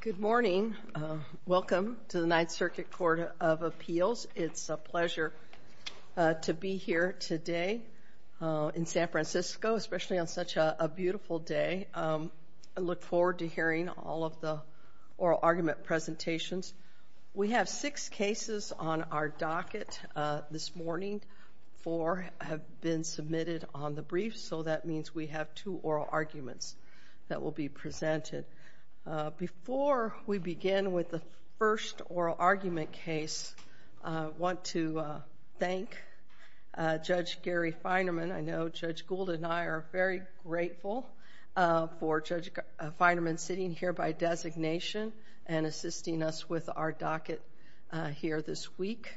Good morning. Welcome to the Ninth Circuit Court of Appeals. It's a pleasure to be here today in San Francisco, especially on such a beautiful day. I look forward to hearing all of the oral argument presentations. We have six cases on our docket this morning. Four have been submitted on the brief, so that means we have two oral arguments that will be presented. Before we begin with the first oral argument case, I want to thank Judge Gary Feinerman. I know Judge Gould and I are very grateful for Judge Feinerman sitting here by designation and assisting us with our docket here this week,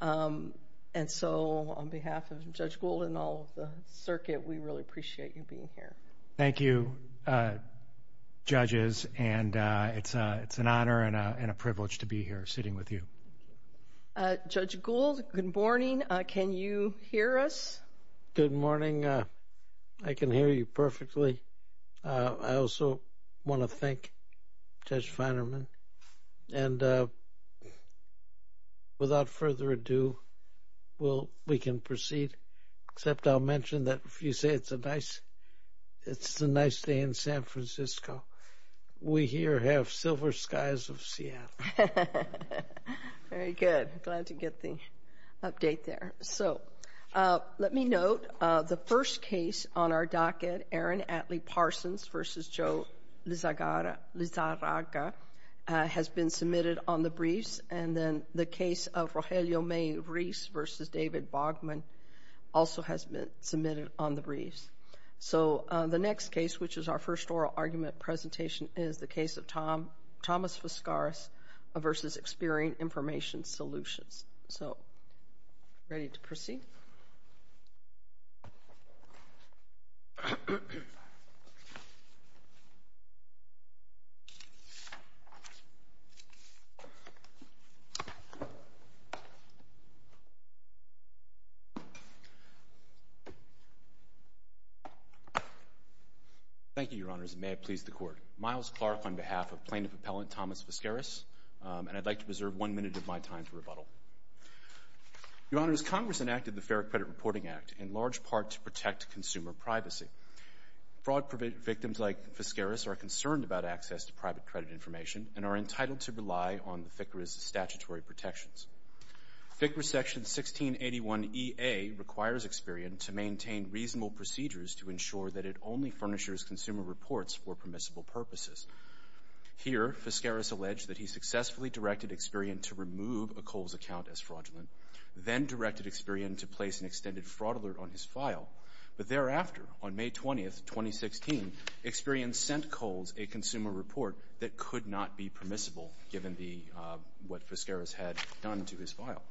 and so on behalf of Judge Feinerman. Thank you, judges, and it's an honor and a privilege to be here sitting with you. Judge Gould, good morning. Can you hear us? Good morning. I can hear you perfectly. I also want to thank Judge Feinerman, and without further ado, we can proceed, except I'll mention that if you say it's a nice day in San Francisco, we here have silver skies of Seattle. Very good. Glad to get the update there. So, let me note the first case on our docket, Aaron Atlee Parsons v. Joe Lizarraga, has been submitted on the briefs, and then the case of Rogelio May Reese v. David Bogman also has been submitted on the briefs. So, the next case, which is our first oral argument presentation, is the case of Thomas Voskaris v. Experian Information Solutions. So, ready to proceed? Thank you, Your Honors, and may it please the Court. Miles Clark on behalf of Plaintiff Appellant Thomas Voskaris, and I'd like to preserve one minute of my time for rebuttal. Your Honors, Congress enacted the Fair Credit Reporting Act in large part to protect consumer privacy. Fraud victims like Voskaris are concerned about access to private credit information and are entitled to rely on FICRA Section 1681EA requires Experian to maintain reasonable procedures to ensure that it only furnishes consumer reports for permissible purposes. Here, Voskaris alleged that he successfully directed Experian to remove a Kohl's account as fraudulent, then directed Experian to place an extended fraud alert on his file, but thereafter, on May 20th, 2016, Experian sent Kohl's a consumer report that could not be permissible, given what Voskaris had done to his file.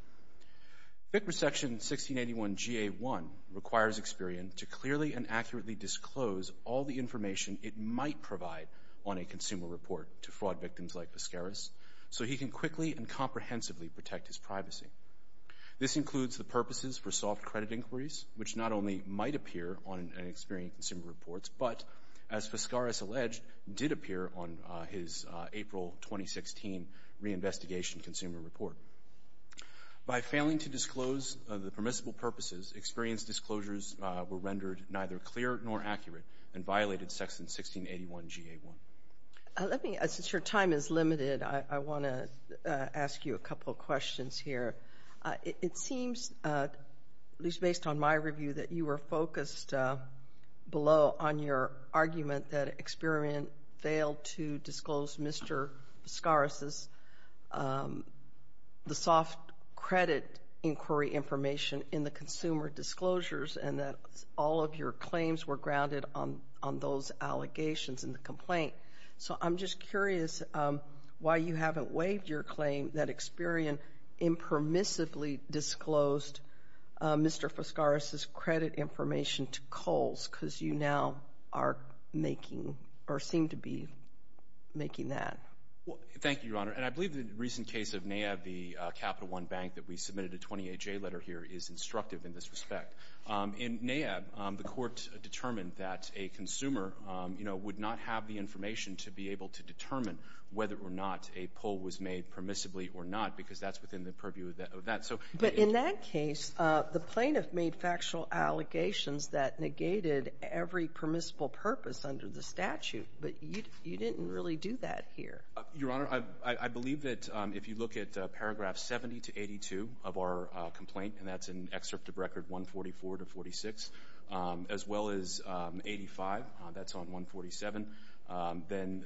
FICRA Section 1681GA1 requires Experian to clearly and accurately disclose all the information it might provide on a consumer report to fraud victims like Voskaris, so he can quickly and comprehensively protect his privacy. This includes the purposes for soft credit inquiries, which not only might appear on his April 2016 reinvestigation consumer report. By failing to disclose the permissible purposes, Experian's disclosures were rendered neither clear nor accurate and violated Section 1681GA1. Let me, since your time is limited, I want to ask you a couple questions here. It seems, at least based on my review, that you were focused below on your claim that Experian failed to disclose Mr. Voskaris' soft credit inquiry information in the consumer disclosures, and that all of your claims were grounded on those allegations in the complaint. So I'm just curious why you haven't waived your claim that Experian impermissibly disclosed Mr. Voskaris' credit information to Kohl's, because you now are making, or seem to be making that. Well, thank you, Your Honor, and I believe the recent case of NAAB, the Capital One Bank, that we submitted a 28-J letter here is instructive in this respect. In NAAB, the court determined that a consumer, you know, would not have the information to be able to determine whether or not a pull was made permissibly or not, because that's within the purview of that, so. But in that case, the plaintiff made factual allegations that negated every permissible purpose under the statute, but you didn't really do that here. Your Honor, I believe that if you look at paragraph 70 to 82 of our complaint, and that's in excerpt of record 144 to 46, as well as 85, that's on 147, then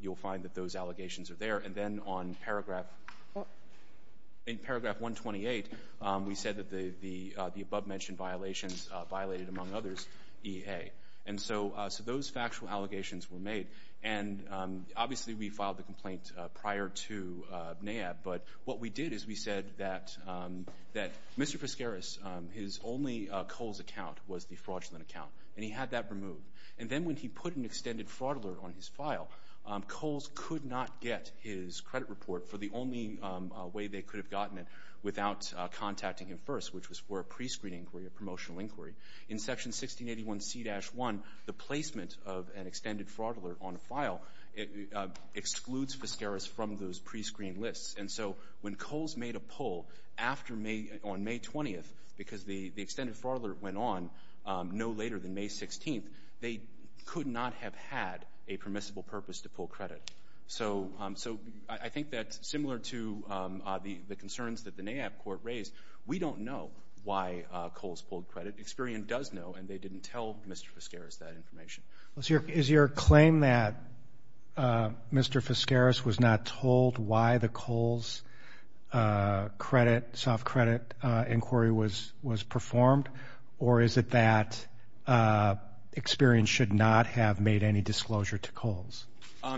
you'll find that those allegations are there. And then on paragraph 128, we said that the above-mentioned violations violated, among others, EA. And so those factual allegations were made, and obviously we filed the complaint prior to NAAB, but what we did is we said that Mr. Pescaris, his only Kohl's account was the fraudulent account, and he had that removed. And then when he put an extended fraud alert on his file, Kohl's could not get his credit report for the only way they could have gotten it without contacting him first, which was for a prescreening inquiry, a promotional inquiry. In section 1681 C-1, the placement of an extended fraud alert on a file excludes Pescaris from those prescreened lists. And so when Kohl's made a pull on May 20th, because the extended fraud alert went on no later than May 16th, they could not have had a permissible purpose to pull credit. So I think that's similar to the concerns that the NAAB court raised. We don't know why Kohl's pulled credit. Experian does know, and they didn't tell Mr. Pescaris that information. Is your claim that Mr. Pescaris was not told why the Kohl's soft credit inquiry was was performed, or is it that Experian should not have made any disclosure to Kohl's?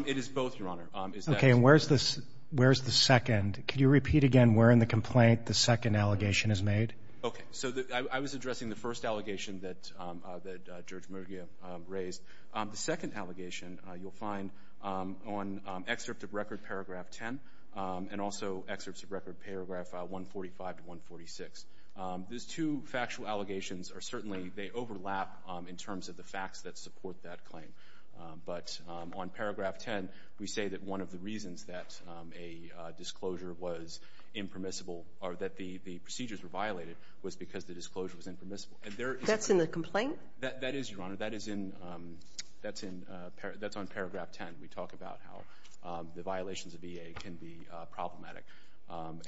It is both, Your Honor. Okay, and where's the second? Could you repeat again where in the complaint the second allegation is made? Okay, so I was addressing the first allegation that Judge Murguia raised. The second allegation you'll find on excerpt of Record Paragraph 10 and also excerpts of Record Paragraph 145 to 146. Those two factual allegations are But on Paragraph 10, we say that one of the reasons that a disclosure was impermissible, or that the procedures were violated, was because the disclosure was impermissible. That's in the complaint? That is, Your Honor. That's on Paragraph 10. We talk about how the violations of EA can be problematic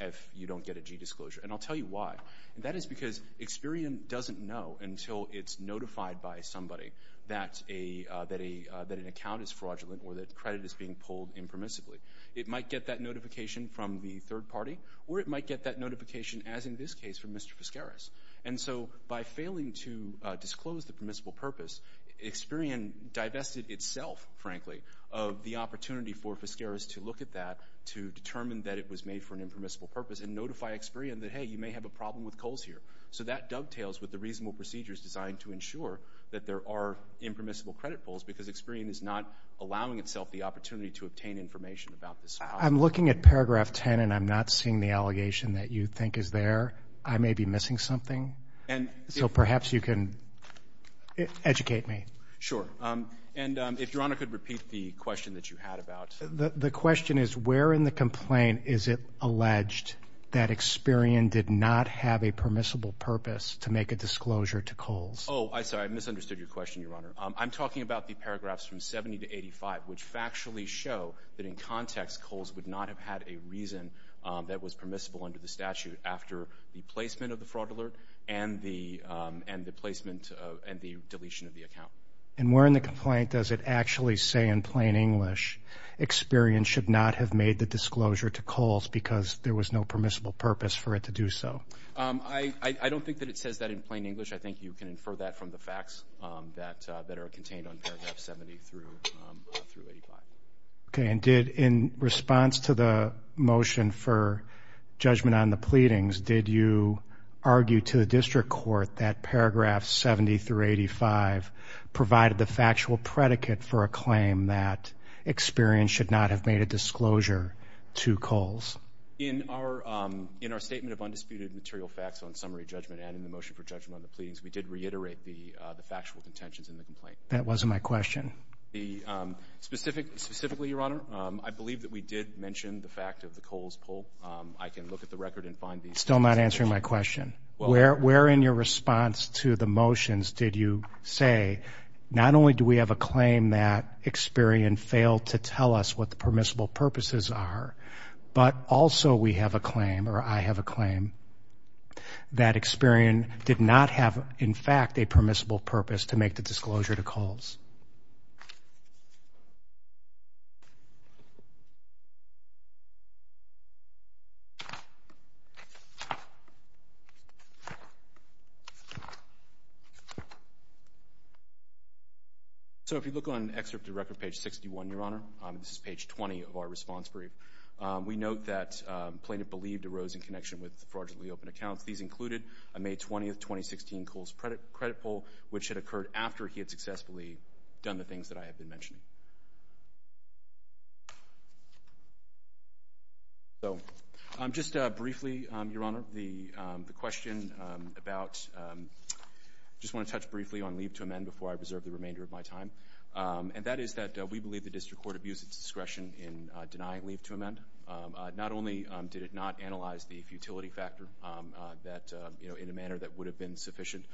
if you don't get a g-disclosure, and I'll tell you why. That is because Experian doesn't know until it's notified by somebody that an account is fraudulent or that credit is being pulled impermissibly. It might get that notification from the third party, or it might get that notification, as in this case, from Mr. Fiskeres. And so, by failing to disclose the permissible purpose, Experian divested itself, frankly, of the opportunity for Fiskeres to look at that to determine that it was made for an impermissible purpose and notify Experian that, hey, you may have a problem with Kohl's here. So that dovetails with the reasonable procedures designed to ensure that there are impermissible credit pulls, because Experian is not allowing itself the opportunity to obtain information about this. I'm looking at Paragraph 10, and I'm not seeing the allegation that you think is there. I may be missing something. And so perhaps you can educate me. Sure. And if Your Honor could repeat the question that you had about... The question is, where in the complaint is it alleged that Experian did not have a Oh, I'm sorry. I misunderstood your question, Your Honor. I'm talking about the paragraphs from 70 to 85, which factually show that in context, Kohl's would not have had a reason that was permissible under the statute after the placement of the fraud alert and the placement and the deletion of the account. And where in the complaint does it actually say in plain English, Experian should not have made the disclosure to Kohl's because there was no permissible purpose for it to do so? I don't think that it says that in plain English. I think you can infer that from the facts that are contained on Paragraph 70 through 85. Okay. And in response to the motion for judgment on the pleadings, did you argue to the district court that Paragraph 70 through 85 provided the factual predicate for a claim that Experian should not have made a disclosure to Kohl's? In our statement of undisputed material facts on summary judgment and in the motion for judgment on the pleadings, we did reiterate the factual contentions in the complaint. That wasn't my question. Specifically, Your Honor, I believe that we did mention the fact of the Kohl's pull. I can look at the record and find these. Still not answering my question. Where in your response to the motions did you say, not only do we have a claim that Experian failed to tell us what the permissible purposes are, but also we have a claim or I have a claim that Experian did not have, in fact, a permissible purpose to make the disclosure to Kohl's. So if you look on excerpt to record page 61, Your Honor, this is page 20 of our report that plaintiff believed arose in connection with the fraudulently open accounts. These included a May 20th, 2016, Kohl's credit pull, which had occurred after he had successfully done the things that I have been mentioning. So, just briefly, Your Honor, the question about, just want to touch briefly on leave to amend before I reserve the remainder of my time, and that is that we believe the district court abused its discretion in denying leave to amend, not only did it not analyze the futility factor that, you know, in a manner that would have been sufficient,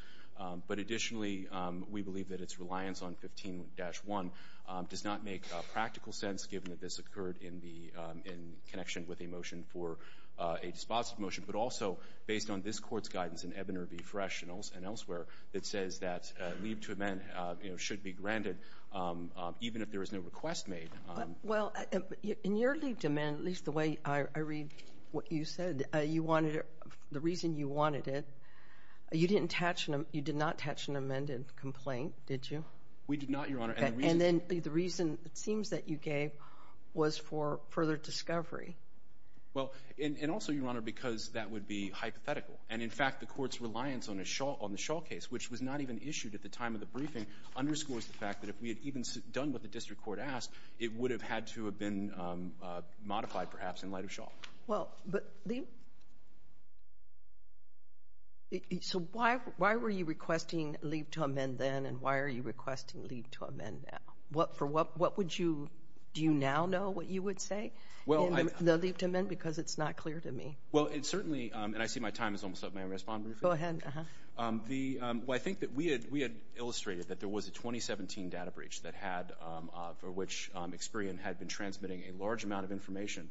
but additionally, we believe that its reliance on 15-1 does not make practical sense, given that this occurred in the, in connection with a motion for a dispositive motion, but also based on this court's guidance in Ebener v. Fresh and elsewhere that says that leave to amend, you know, should be granted even if there is no request made. Well, in your leave to amend, at least the way I read what you said, you wanted, the reason you wanted it, you didn't touch, you did not touch an amended complaint, did you? We did not, Your Honor. And then the reason, it seems that you gave, was for further discovery. Well, and also, Your Honor, because that would be hypothetical, and in fact, the court's reliance on a shawl, on the shawl case, which was not even issued at the time of the briefing, underscores the fact that if we had even done what the district court asked, it would have had to have been modified, perhaps, in light of shawl. Well, but the, so why, why were you requesting leave to amend then, and why are you requesting leave to amend now? What, for what, what would you, do you now know what you would say? Well, I, the leave to amend, because it's not clear to me. Well, it certainly, and I see my time is almost up, may I respond briefly? Go ahead, uh-huh. The, well, I think that we had, we had a 2017 data breach that had, for which Experian had been transmitting a large amount of information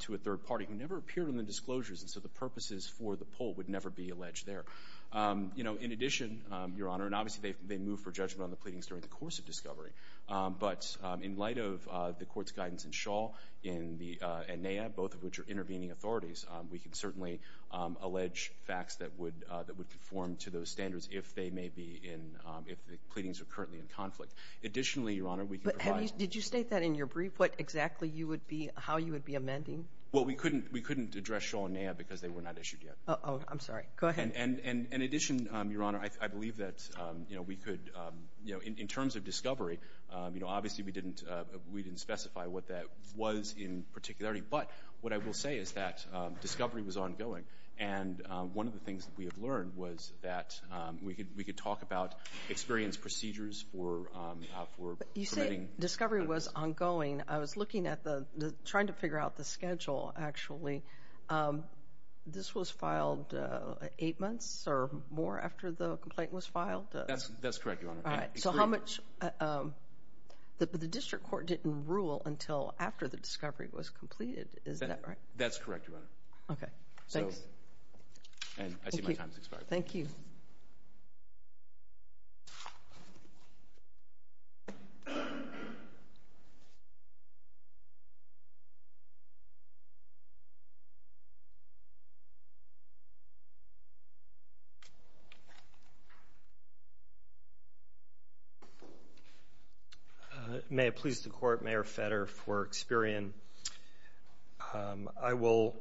to a third party, who never appeared on the disclosures, and so the purposes for the poll would never be alleged there. You know, in addition, Your Honor, and obviously they've, they moved for judgment on the pleadings during the course of discovery, but in light of the court's guidance in shawl, in the, and NAA, both of which are intervening authorities, we can certainly allege facts that would, that would conform to those standards if they may be in, if the pleadings are currently in conflict. Additionally, Your Honor, we can provide. But have you, did you state that in your brief, what exactly you would be, how you would be amending? Well, we couldn't, we couldn't address shawl and NAA because they were not issued yet. Oh, I'm sorry. Go ahead. And, and, and in addition, Your Honor, I believe that, you know, we could, you know, in terms of discovery, you know, obviously we didn't, we didn't specify what that was in particularity, but what I will say is that discovery was ongoing, and one of the things that we have learned was that we could, we could talk about experience procedures for, for. You say discovery was ongoing. I was looking at the, trying to figure out the schedule, actually. This was filed eight months or more after the complaint was filed? That's, that's correct, Your Honor. All right. So how much, the, the district court didn't rule until after the discovery was completed, is that right? That's correct, Your Honor. Okay, thanks. And I see my time has expired. Thank you. May it please the Court, Mayor Fetter for Experian. I will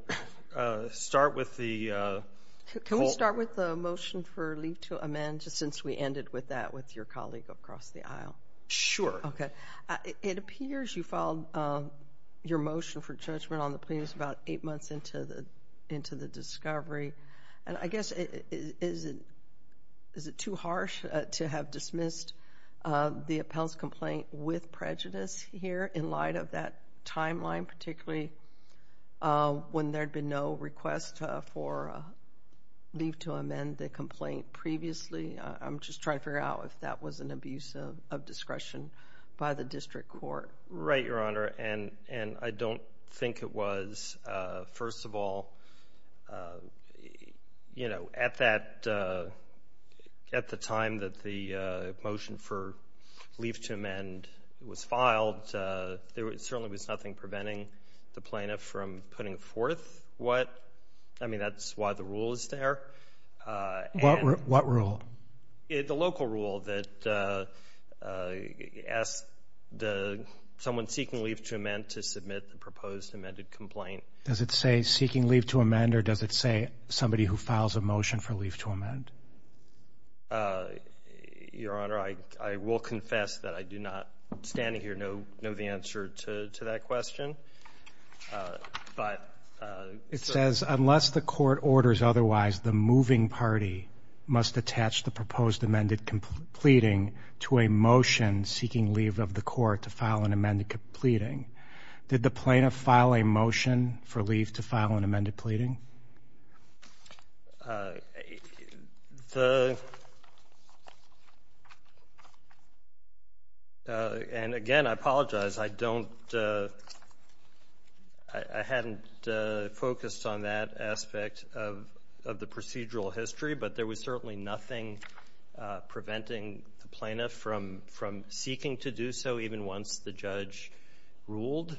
start with the. Can we start with the motion for leave to amend, just since we ended with that with your colleague across the aisle? Sure. Okay. It appears you filed your motion for judgment on the plaintiffs about eight months into the, into the discovery, and I guess is it, is it too harsh to have dismissed the appellant's complaint with prejudice here in light of that timeline, particularly when there'd been no request for leave to amend the previously? I'm just trying to figure out if that was an abuse of discretion by the district court. Right, Your Honor, and, and I don't think it was. First of all, you know, at that, at the time that the motion for leave to amend was filed, there certainly was nothing preventing the plaintiff from putting forth what, I mean that's why the rule is there. What rule? The local rule that asked the, someone seeking leave to amend to submit the proposed amended complaint. Does it say seeking leave to amend or does it say somebody who files a motion for leave to amend? Your Honor, I, I will confess that I do not, standing here, know, know the answer to that question, but. It says unless the court orders otherwise, the moving party must attach the proposed amended pleading to a motion seeking leave of the court to file an amended pleading. Did the plaintiff file a motion for leave to file an amended pleading? The, and again, I apologize, I don't, I hadn't focused on that aspect of, of the procedural history, but there was certainly nothing preventing the plaintiff from, from seeking to do so even once the judge ruled.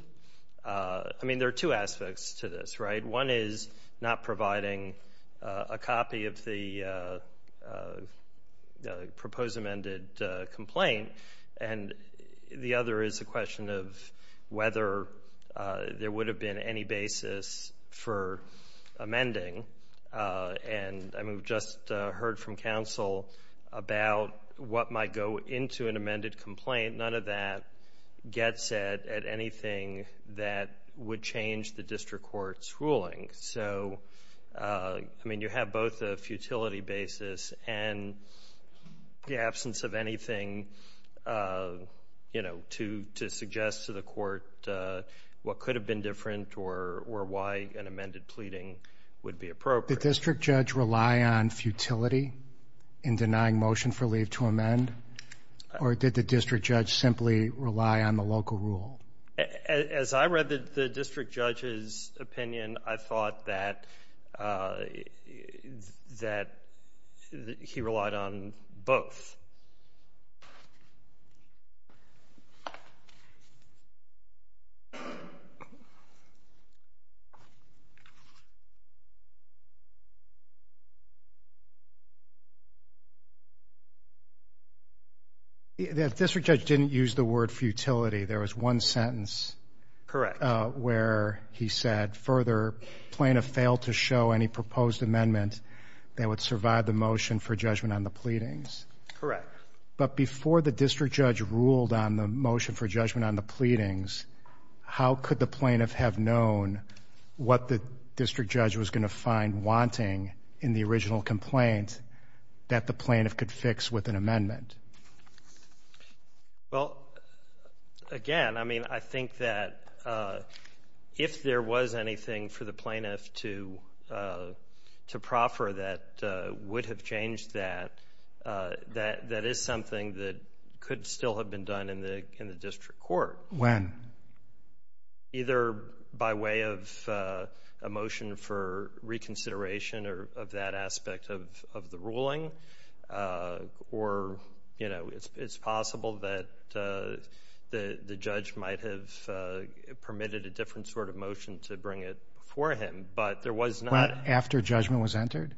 I mean, there are two aspects to this, right? One is not providing a copy of the proposed amended complaint, and the other is the question of whether there would have been any basis for amending. And, I mean, we've just heard from counsel about what might go into an amended complaint. None of that gets at, at anything that would change the district court's ruling. So, I mean, you have both a futility basis and the absence of anything, you know, to, to suggest to the court what could have been different or, or why an amended pleading would be appropriate. Did the district judge rely on futility in denying motion for leave to amend, or did the district judge simply rely on the local rule? As I read the, the district judge's opinion, I thought that, that he relied on both. The district judge didn't use the word futility. There was one sentence. Correct. Where he said, further, plaintiff failed to show any proposed amendment that would survive the motion for judgment on the pleadings. Correct. But before the district judge ruled on the motion for judgment on the pleadings, how could the plaintiff have known what the district judge was going to find wanting in the original complaint that the plaintiff could fix with an amendment? Well, again, I mean, I think that if there was anything for the plaintiff to, to proffer that would have changed that, that, that is something that could still have been done in the, in the district court. When? Either by way of a motion for reconsideration or, of that aspect of, of the ruling, or, you know, it's, it's possible that the, the judge might have permitted a different sort of motion to bring it before him, but there was not. But after judgment was entered?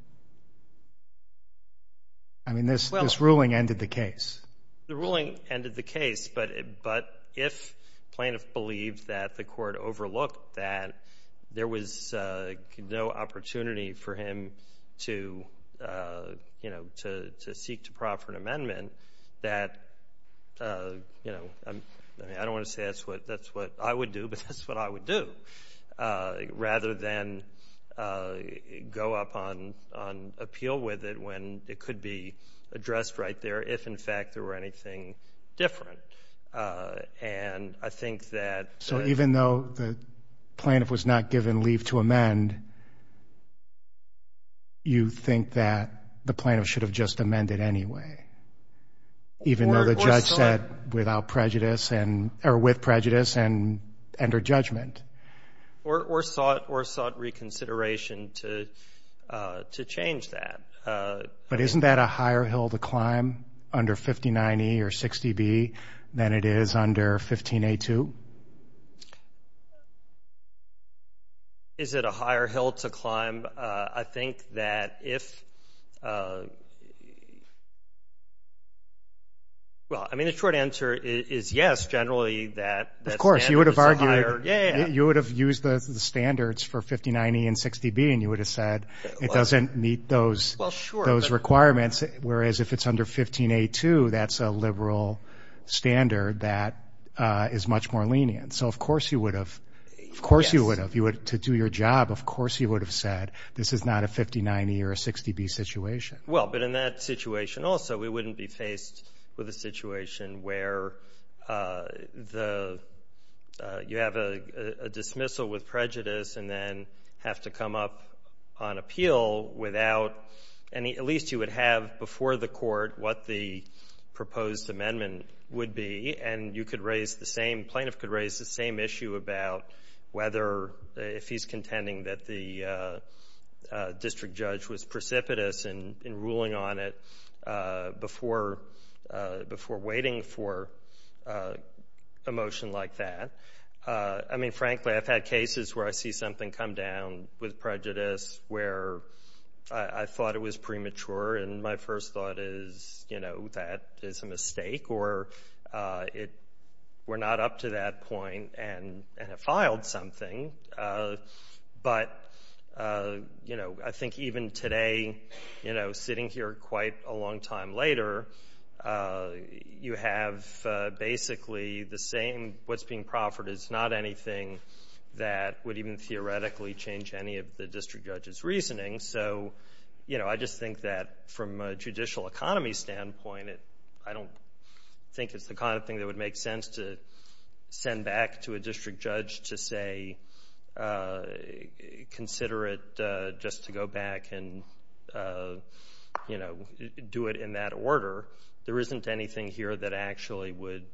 I mean, this, this ruling ended the case. The ruling ended the case, but, but if plaintiff believed that the court overlooked that there was no opportunity for him to, you know, to, to seek to proffer an amendment that, you know, I don't want to say that's what, that's what I would do, but that's what I would do. Rather than go up on, on appeal with it when it could be addressed right there, if in fact there were anything different. And I think that. So even though the plaintiff was not given leave to amend, you think that the plaintiff should have just amended anyway? Even though the judge said without prejudice and, or with prejudice and under judgment. Or, or sought, or sought reconsideration to, to change that. But isn't that a higher hill to climb under 59E or 60B than it is under 15A2? Is it a higher hill to climb? I think that if, well, I mean, the short answer is yes, generally that. Of course, you would have used the standards for 59E and 60B and you would have said it doesn't meet those, those requirements. Whereas if it's under 15A2, that's a liberal standard that is much more lenient. So of course you would have, of course you would have, you would, to do your job, of course you would have said this is not a 59E or a 60B situation. Well, but in that situation also, we wouldn't be with prejudice and then have to come up on appeal without any, at least you would have before the court what the proposed amendment would be. And you could raise the same, plaintiff could raise the same issue about whether, if he's contending that the district judge was precipitous in, in ruling on it before, before waiting for a motion like that. I mean, frankly, I've had cases where I see something come down with prejudice where I thought it was premature. And my first thought is, you know, that is a mistake or it, we're not up to that point and, and have filed something. But, you know, I think even today, you know, sitting here quite a long time later, you have basically the same, what's being proffered is not anything that would even theoretically change any of the district judge's reasoning. So, you know, I just think that from a judicial economy standpoint, it, I don't think it's the kind of thing that would make sense to send back to a do it in that order. There isn't anything here that actually would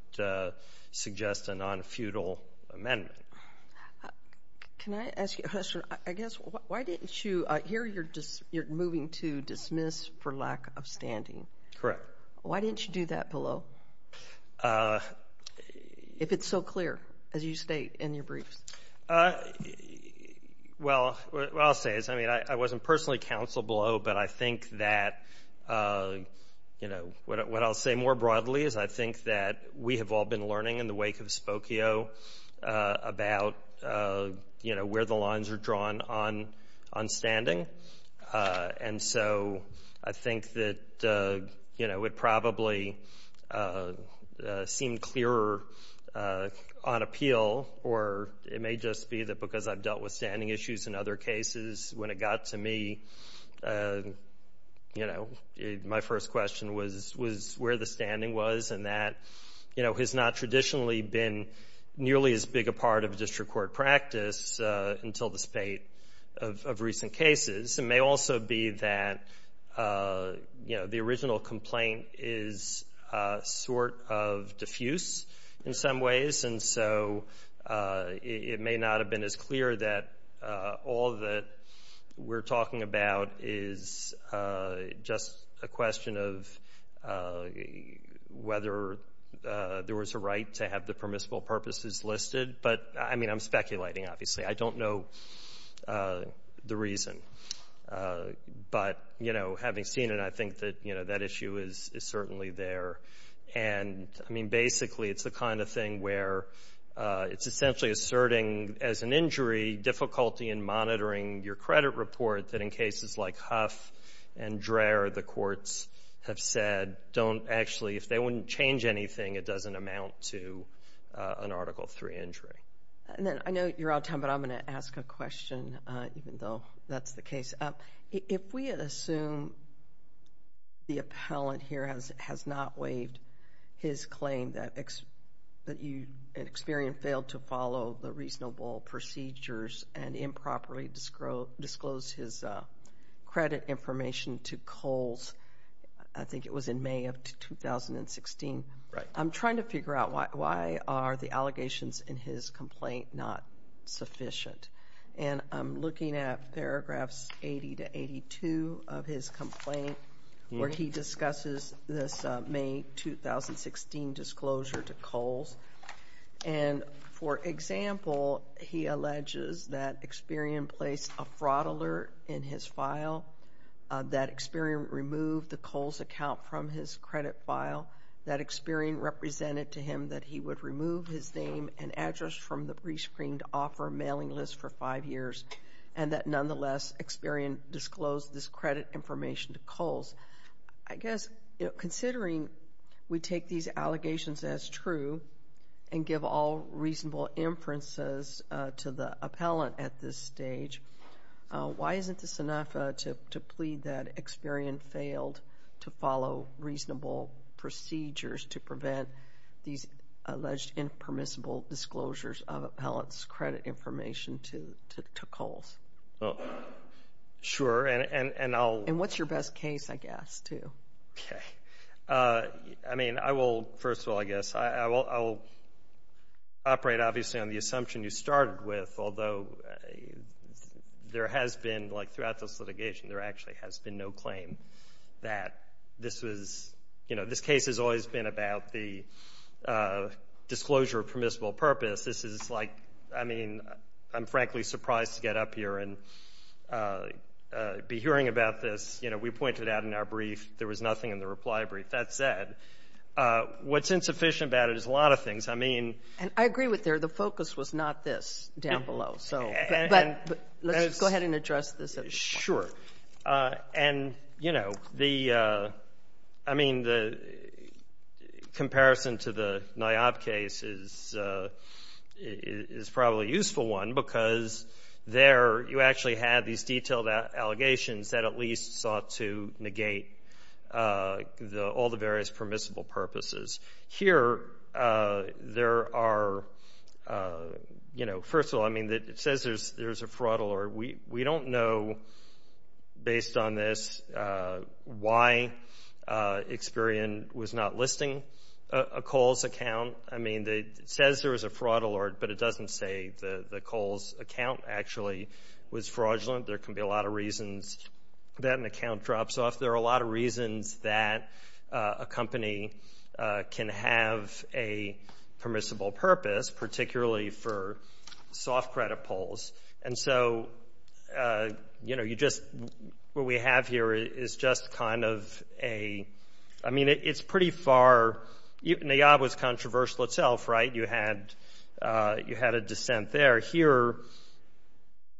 suggest a non-feudal amendment. Can I ask you a question? I guess, why didn't you, here you're just, you're moving to dismiss for lack of standing. Correct. Why didn't you do that below? If it's so clear, as you state in your briefs. Well, what I'll personally counsel below, but I think that, you know, what, what I'll say more broadly is I think that we have all been learning in the wake of Spokio about, you know, where the lines are drawn on, on standing. And so, I think that, you know, it probably seemed clearer on appeal or it may just be that because I've dealt with standing issues in other cases, when it got to me, you know, my first question was, was where the standing was and that, you know, has not traditionally been nearly as big a part of district court practice until the spate of recent cases. It may also be that, you know, the original complaint is sort of diffuse in some ways. And so, it may not have been as clear that all that we're talking about is just a question of whether there was a right to have the permissible purposes listed. But, I mean, I'm speculating, obviously. I don't know the reason. But, you know, having seen it, I think that, you know, that issue is something where it's essentially asserting, as an injury, difficulty in monitoring your credit report that, in cases like Huff and Dreher, the courts have said, don't actually, if they wouldn't change anything, it doesn't amount to an Article III injury. And then, I know you're out of time, but I'm going to ask a question, even though that's the case. If we assume the appellant here has not waived his claim that you, in experience, failed to follow the reasonable procedures and improperly disclosed his credit information to Coles, I think it was in May of 2016. Right. I'm trying to figure out why are the allegations in his complaint not sufficient. And I'm looking at paragraphs 80 to 82 of his complaint where he made a disclosure to Coles. And, for example, he alleges that Experian placed a fraud alert in his file, that Experian removed the Coles account from his credit file, that Experian represented to him that he would remove his name and address from the prescreened offer mailing list for five years, and that, nonetheless, Experian disclosed this credit information to Coles. I guess, considering we take these allegations as true and give all reasonable inferences to the appellant at this stage, why isn't this enough to plead that Experian failed to follow reasonable procedures to prevent these alleged impermissible disclosures of appellant's credit information to Coles? Sure. And what's your best case, I guess, too? Okay. I mean, I will, first of all, I guess, I will operate, obviously, on the assumption you started with, although there has been, like throughout this litigation, there actually has been no claim that this was, you know, this case has always been about the disclosure of permissible purpose. This is like, I mean, I'm frankly surprised to get up here and be hearing about this. You know, we pointed out in our brief there was nothing in the reply brief. That said, what's insufficient about it is a lot of things. I mean... And I agree with her. The focus was not this down below. So, but let's go ahead and address this at this point. Sure. And, you know, the, I mean, the comparison to the Niob case is probably a useful one because there you actually have these detailed allegations that at least sought to negate all the various permissible purposes. Here there are, you know, we don't know, based on this, why Experian was not listing a Kohl's account. I mean, it says there was a fraud alert, but it doesn't say the Kohl's account actually was fraudulent. There can be a lot of reasons that an account drops off. There are a lot of reasons that a company can have a soft credit polls. And so, you know, you just, what we have here is just kind of a, I mean, it's pretty far, Niob was controversial itself, right? You had a dissent there. Here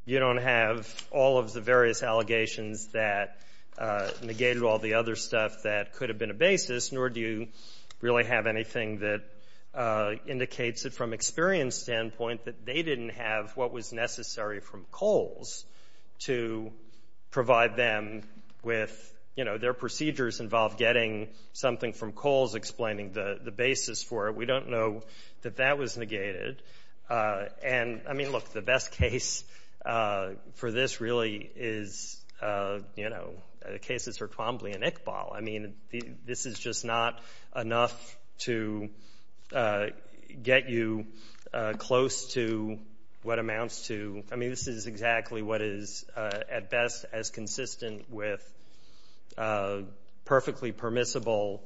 you don't have all of the various allegations that negated all the other stuff that could have been a basis, nor do you really have anything that indicates that from Experian's standpoint, that they didn't have what was necessary from Kohl's to provide them with, you know, their procedures involve getting something from Kohl's explaining the basis for it. We don't know that that was negated. And, I mean, look, the best case for this really is, you know, the cases for Twombly and Iqbal. I mean, this is just not enough to get you close to what amounts to, I mean, this is exactly what is at best as consistent with perfectly permissible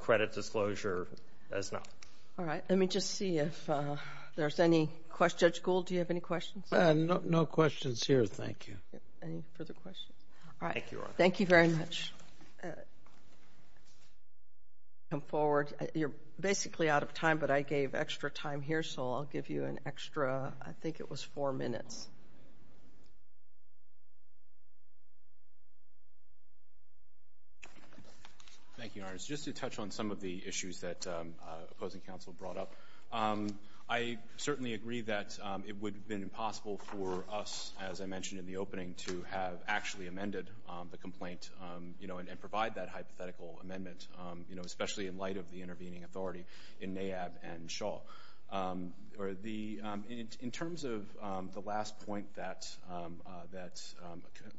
credit disclosure as not. All right. Let me just see if there's any questions. Judge Gould, do you have any questions? No questions here, thank you. Any further questions? All right. Thank you very much. Come forward. You're basically out of time, but I gave extra time here, so I'll give you an extra, I think it was four minutes. Thank you, Your Honor. Just to touch on some of the issues that opposing counsel brought up, I certainly agree that it would have been impossible for us, as I mentioned in the opening, to have actually amended the complaint, you know, and provide that hypothetical amendment, you know, especially in light of the intervening authority in NAAB and Shaw. In terms of the last point that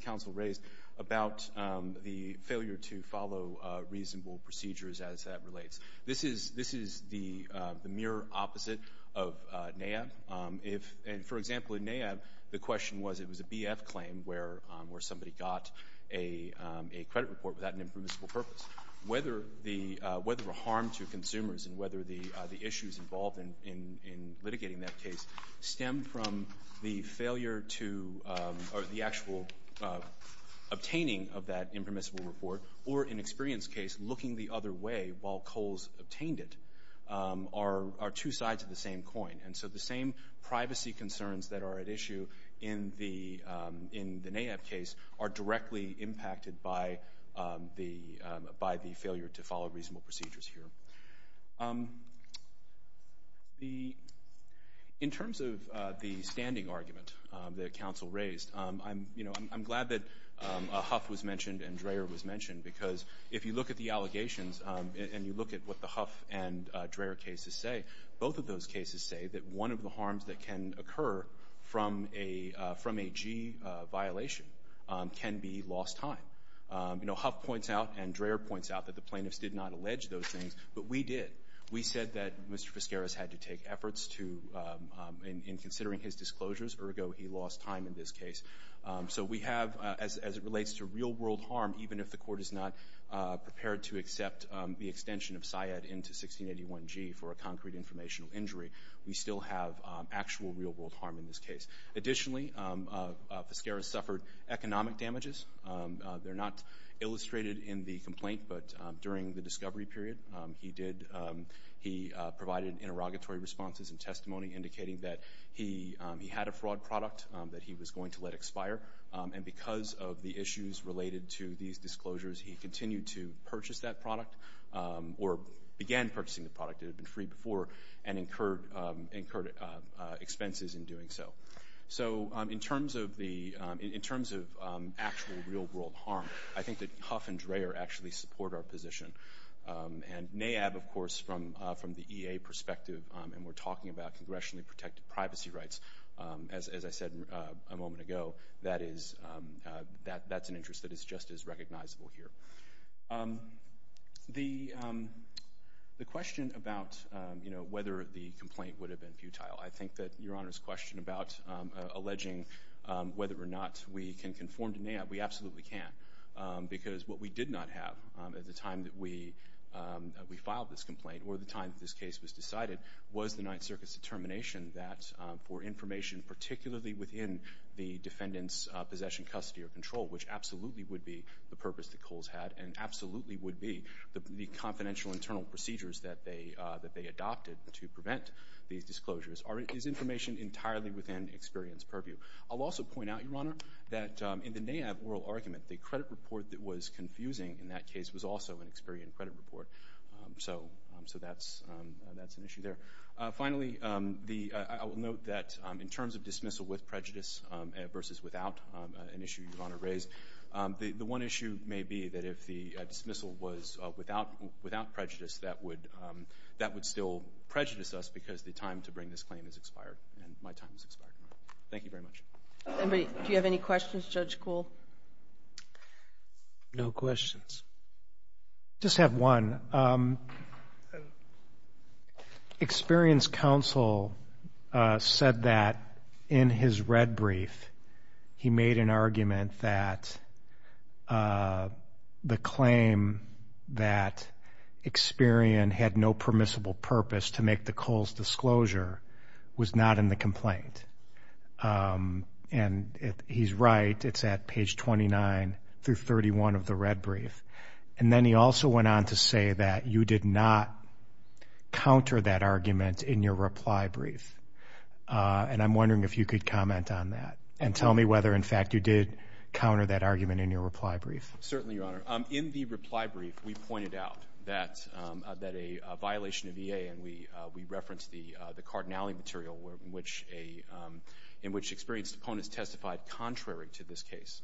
counsel raised about the failure to follow reasonable procedures as that the mere opposite of NAAB, and for example, in NAAB, the question was it was a BF claim where somebody got a credit report without an impermissible purpose. Whether the harm to consumers and whether the issues involved in litigating that case stem from the failure to, or the actual obtaining of that impermissible report, or an experienced case looking the other way while Coles obtained it, are two sides of the same coin, and so the same privacy concerns that are at issue in the NAAB case are directly impacted by the failure to follow reasonable procedures here. In terms of the standing argument that counsel raised, I'm glad that Huff was and you look at what the Huff and Dreher cases say, both of those cases say that one of the harms that can occur from a G violation can be lost time. You know, Huff points out and Dreher points out that the plaintiffs did not allege those things, but we did. We said that Mr. Vizcarra's had to take efforts in considering his disclosures, ergo he lost time in this case. So we have, as it relates to real-world harm, even if the court is not prepared to accept the extension of SIAD into 1681G for a concrete informational injury, we still have actual real-world harm in this case. Additionally, Vizcarra suffered economic damages. They're not illustrated in the complaint, but during the discovery period, he provided interrogatory responses and testimony indicating that he had a fraud product that he was going to let expire, and because of the or began purchasing the product, it had been free before, and incurred expenses in doing so. So in terms of actual real-world harm, I think that Huff and Dreher actually support our position. And NAAB, of course, from the EA perspective, and we're talking about congressionally protected privacy rights, as I said a moment ago, that's an interest that is just as recognizable here. The question about whether the complaint would have been futile, I think that Your Honor's question about alleging whether or not we can conform to NAAB, we absolutely can, because what we did not have at the time that we filed this complaint or the time that this case was decided was the Ninth Circuit's determination that for information particularly within the defendant's possession, custody, or control, which absolutely would be the purpose that and absolutely would be the confidential internal procedures that they adopted to prevent these disclosures, is information entirely within experience purview. I'll also point out, Your Honor, that in the NAAB oral argument, the credit report that was confusing in that case was also an experienced credit report. So that's an issue there. Finally, I will note that in terms of dismissal with prejudice versus without, an issue Your Honor raised, the one issue may be that if the dismissal was without prejudice, that would still prejudice us because the time to bring this claim has expired and my time has expired. Thank you very much. Anybody, do you have any questions, Judge Kuhl? No questions. Just have one. Experience counsel said that in his red brief, he made an the claim that Experian had no permissible purpose to make the Kohl's disclosure was not in the complaint. And he's right, it's at page 29 through 31 of the red brief. And then he also went on to say that you did not counter that argument in your reply brief. And I'm wondering if you could comment on that and tell me whether, in fact, you did counter that argument in your reply brief. Certainly, Your Honor. In the reply brief, we pointed out that a violation of EA, and we referenced the cardinality material in which experienced opponents testified contrary to this case,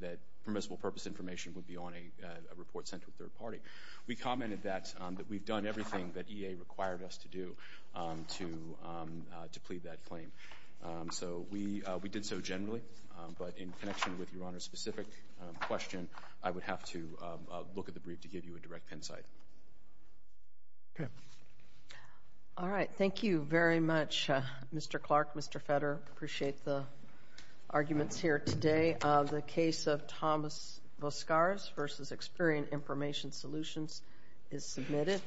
that permissible purpose information would be on a report sent to a third party. We commented that we've everything that EA required us to do to plead that claim. So we did so generally. But in connection with Your Honor's specific question, I would have to look at the brief to give you a direct insight. All right. Thank you very much, Mr. Clark, Mr. Fetter. Appreciate the arguments here today. The case of Thomas Voskares versus Experian Information Solutions is submitted.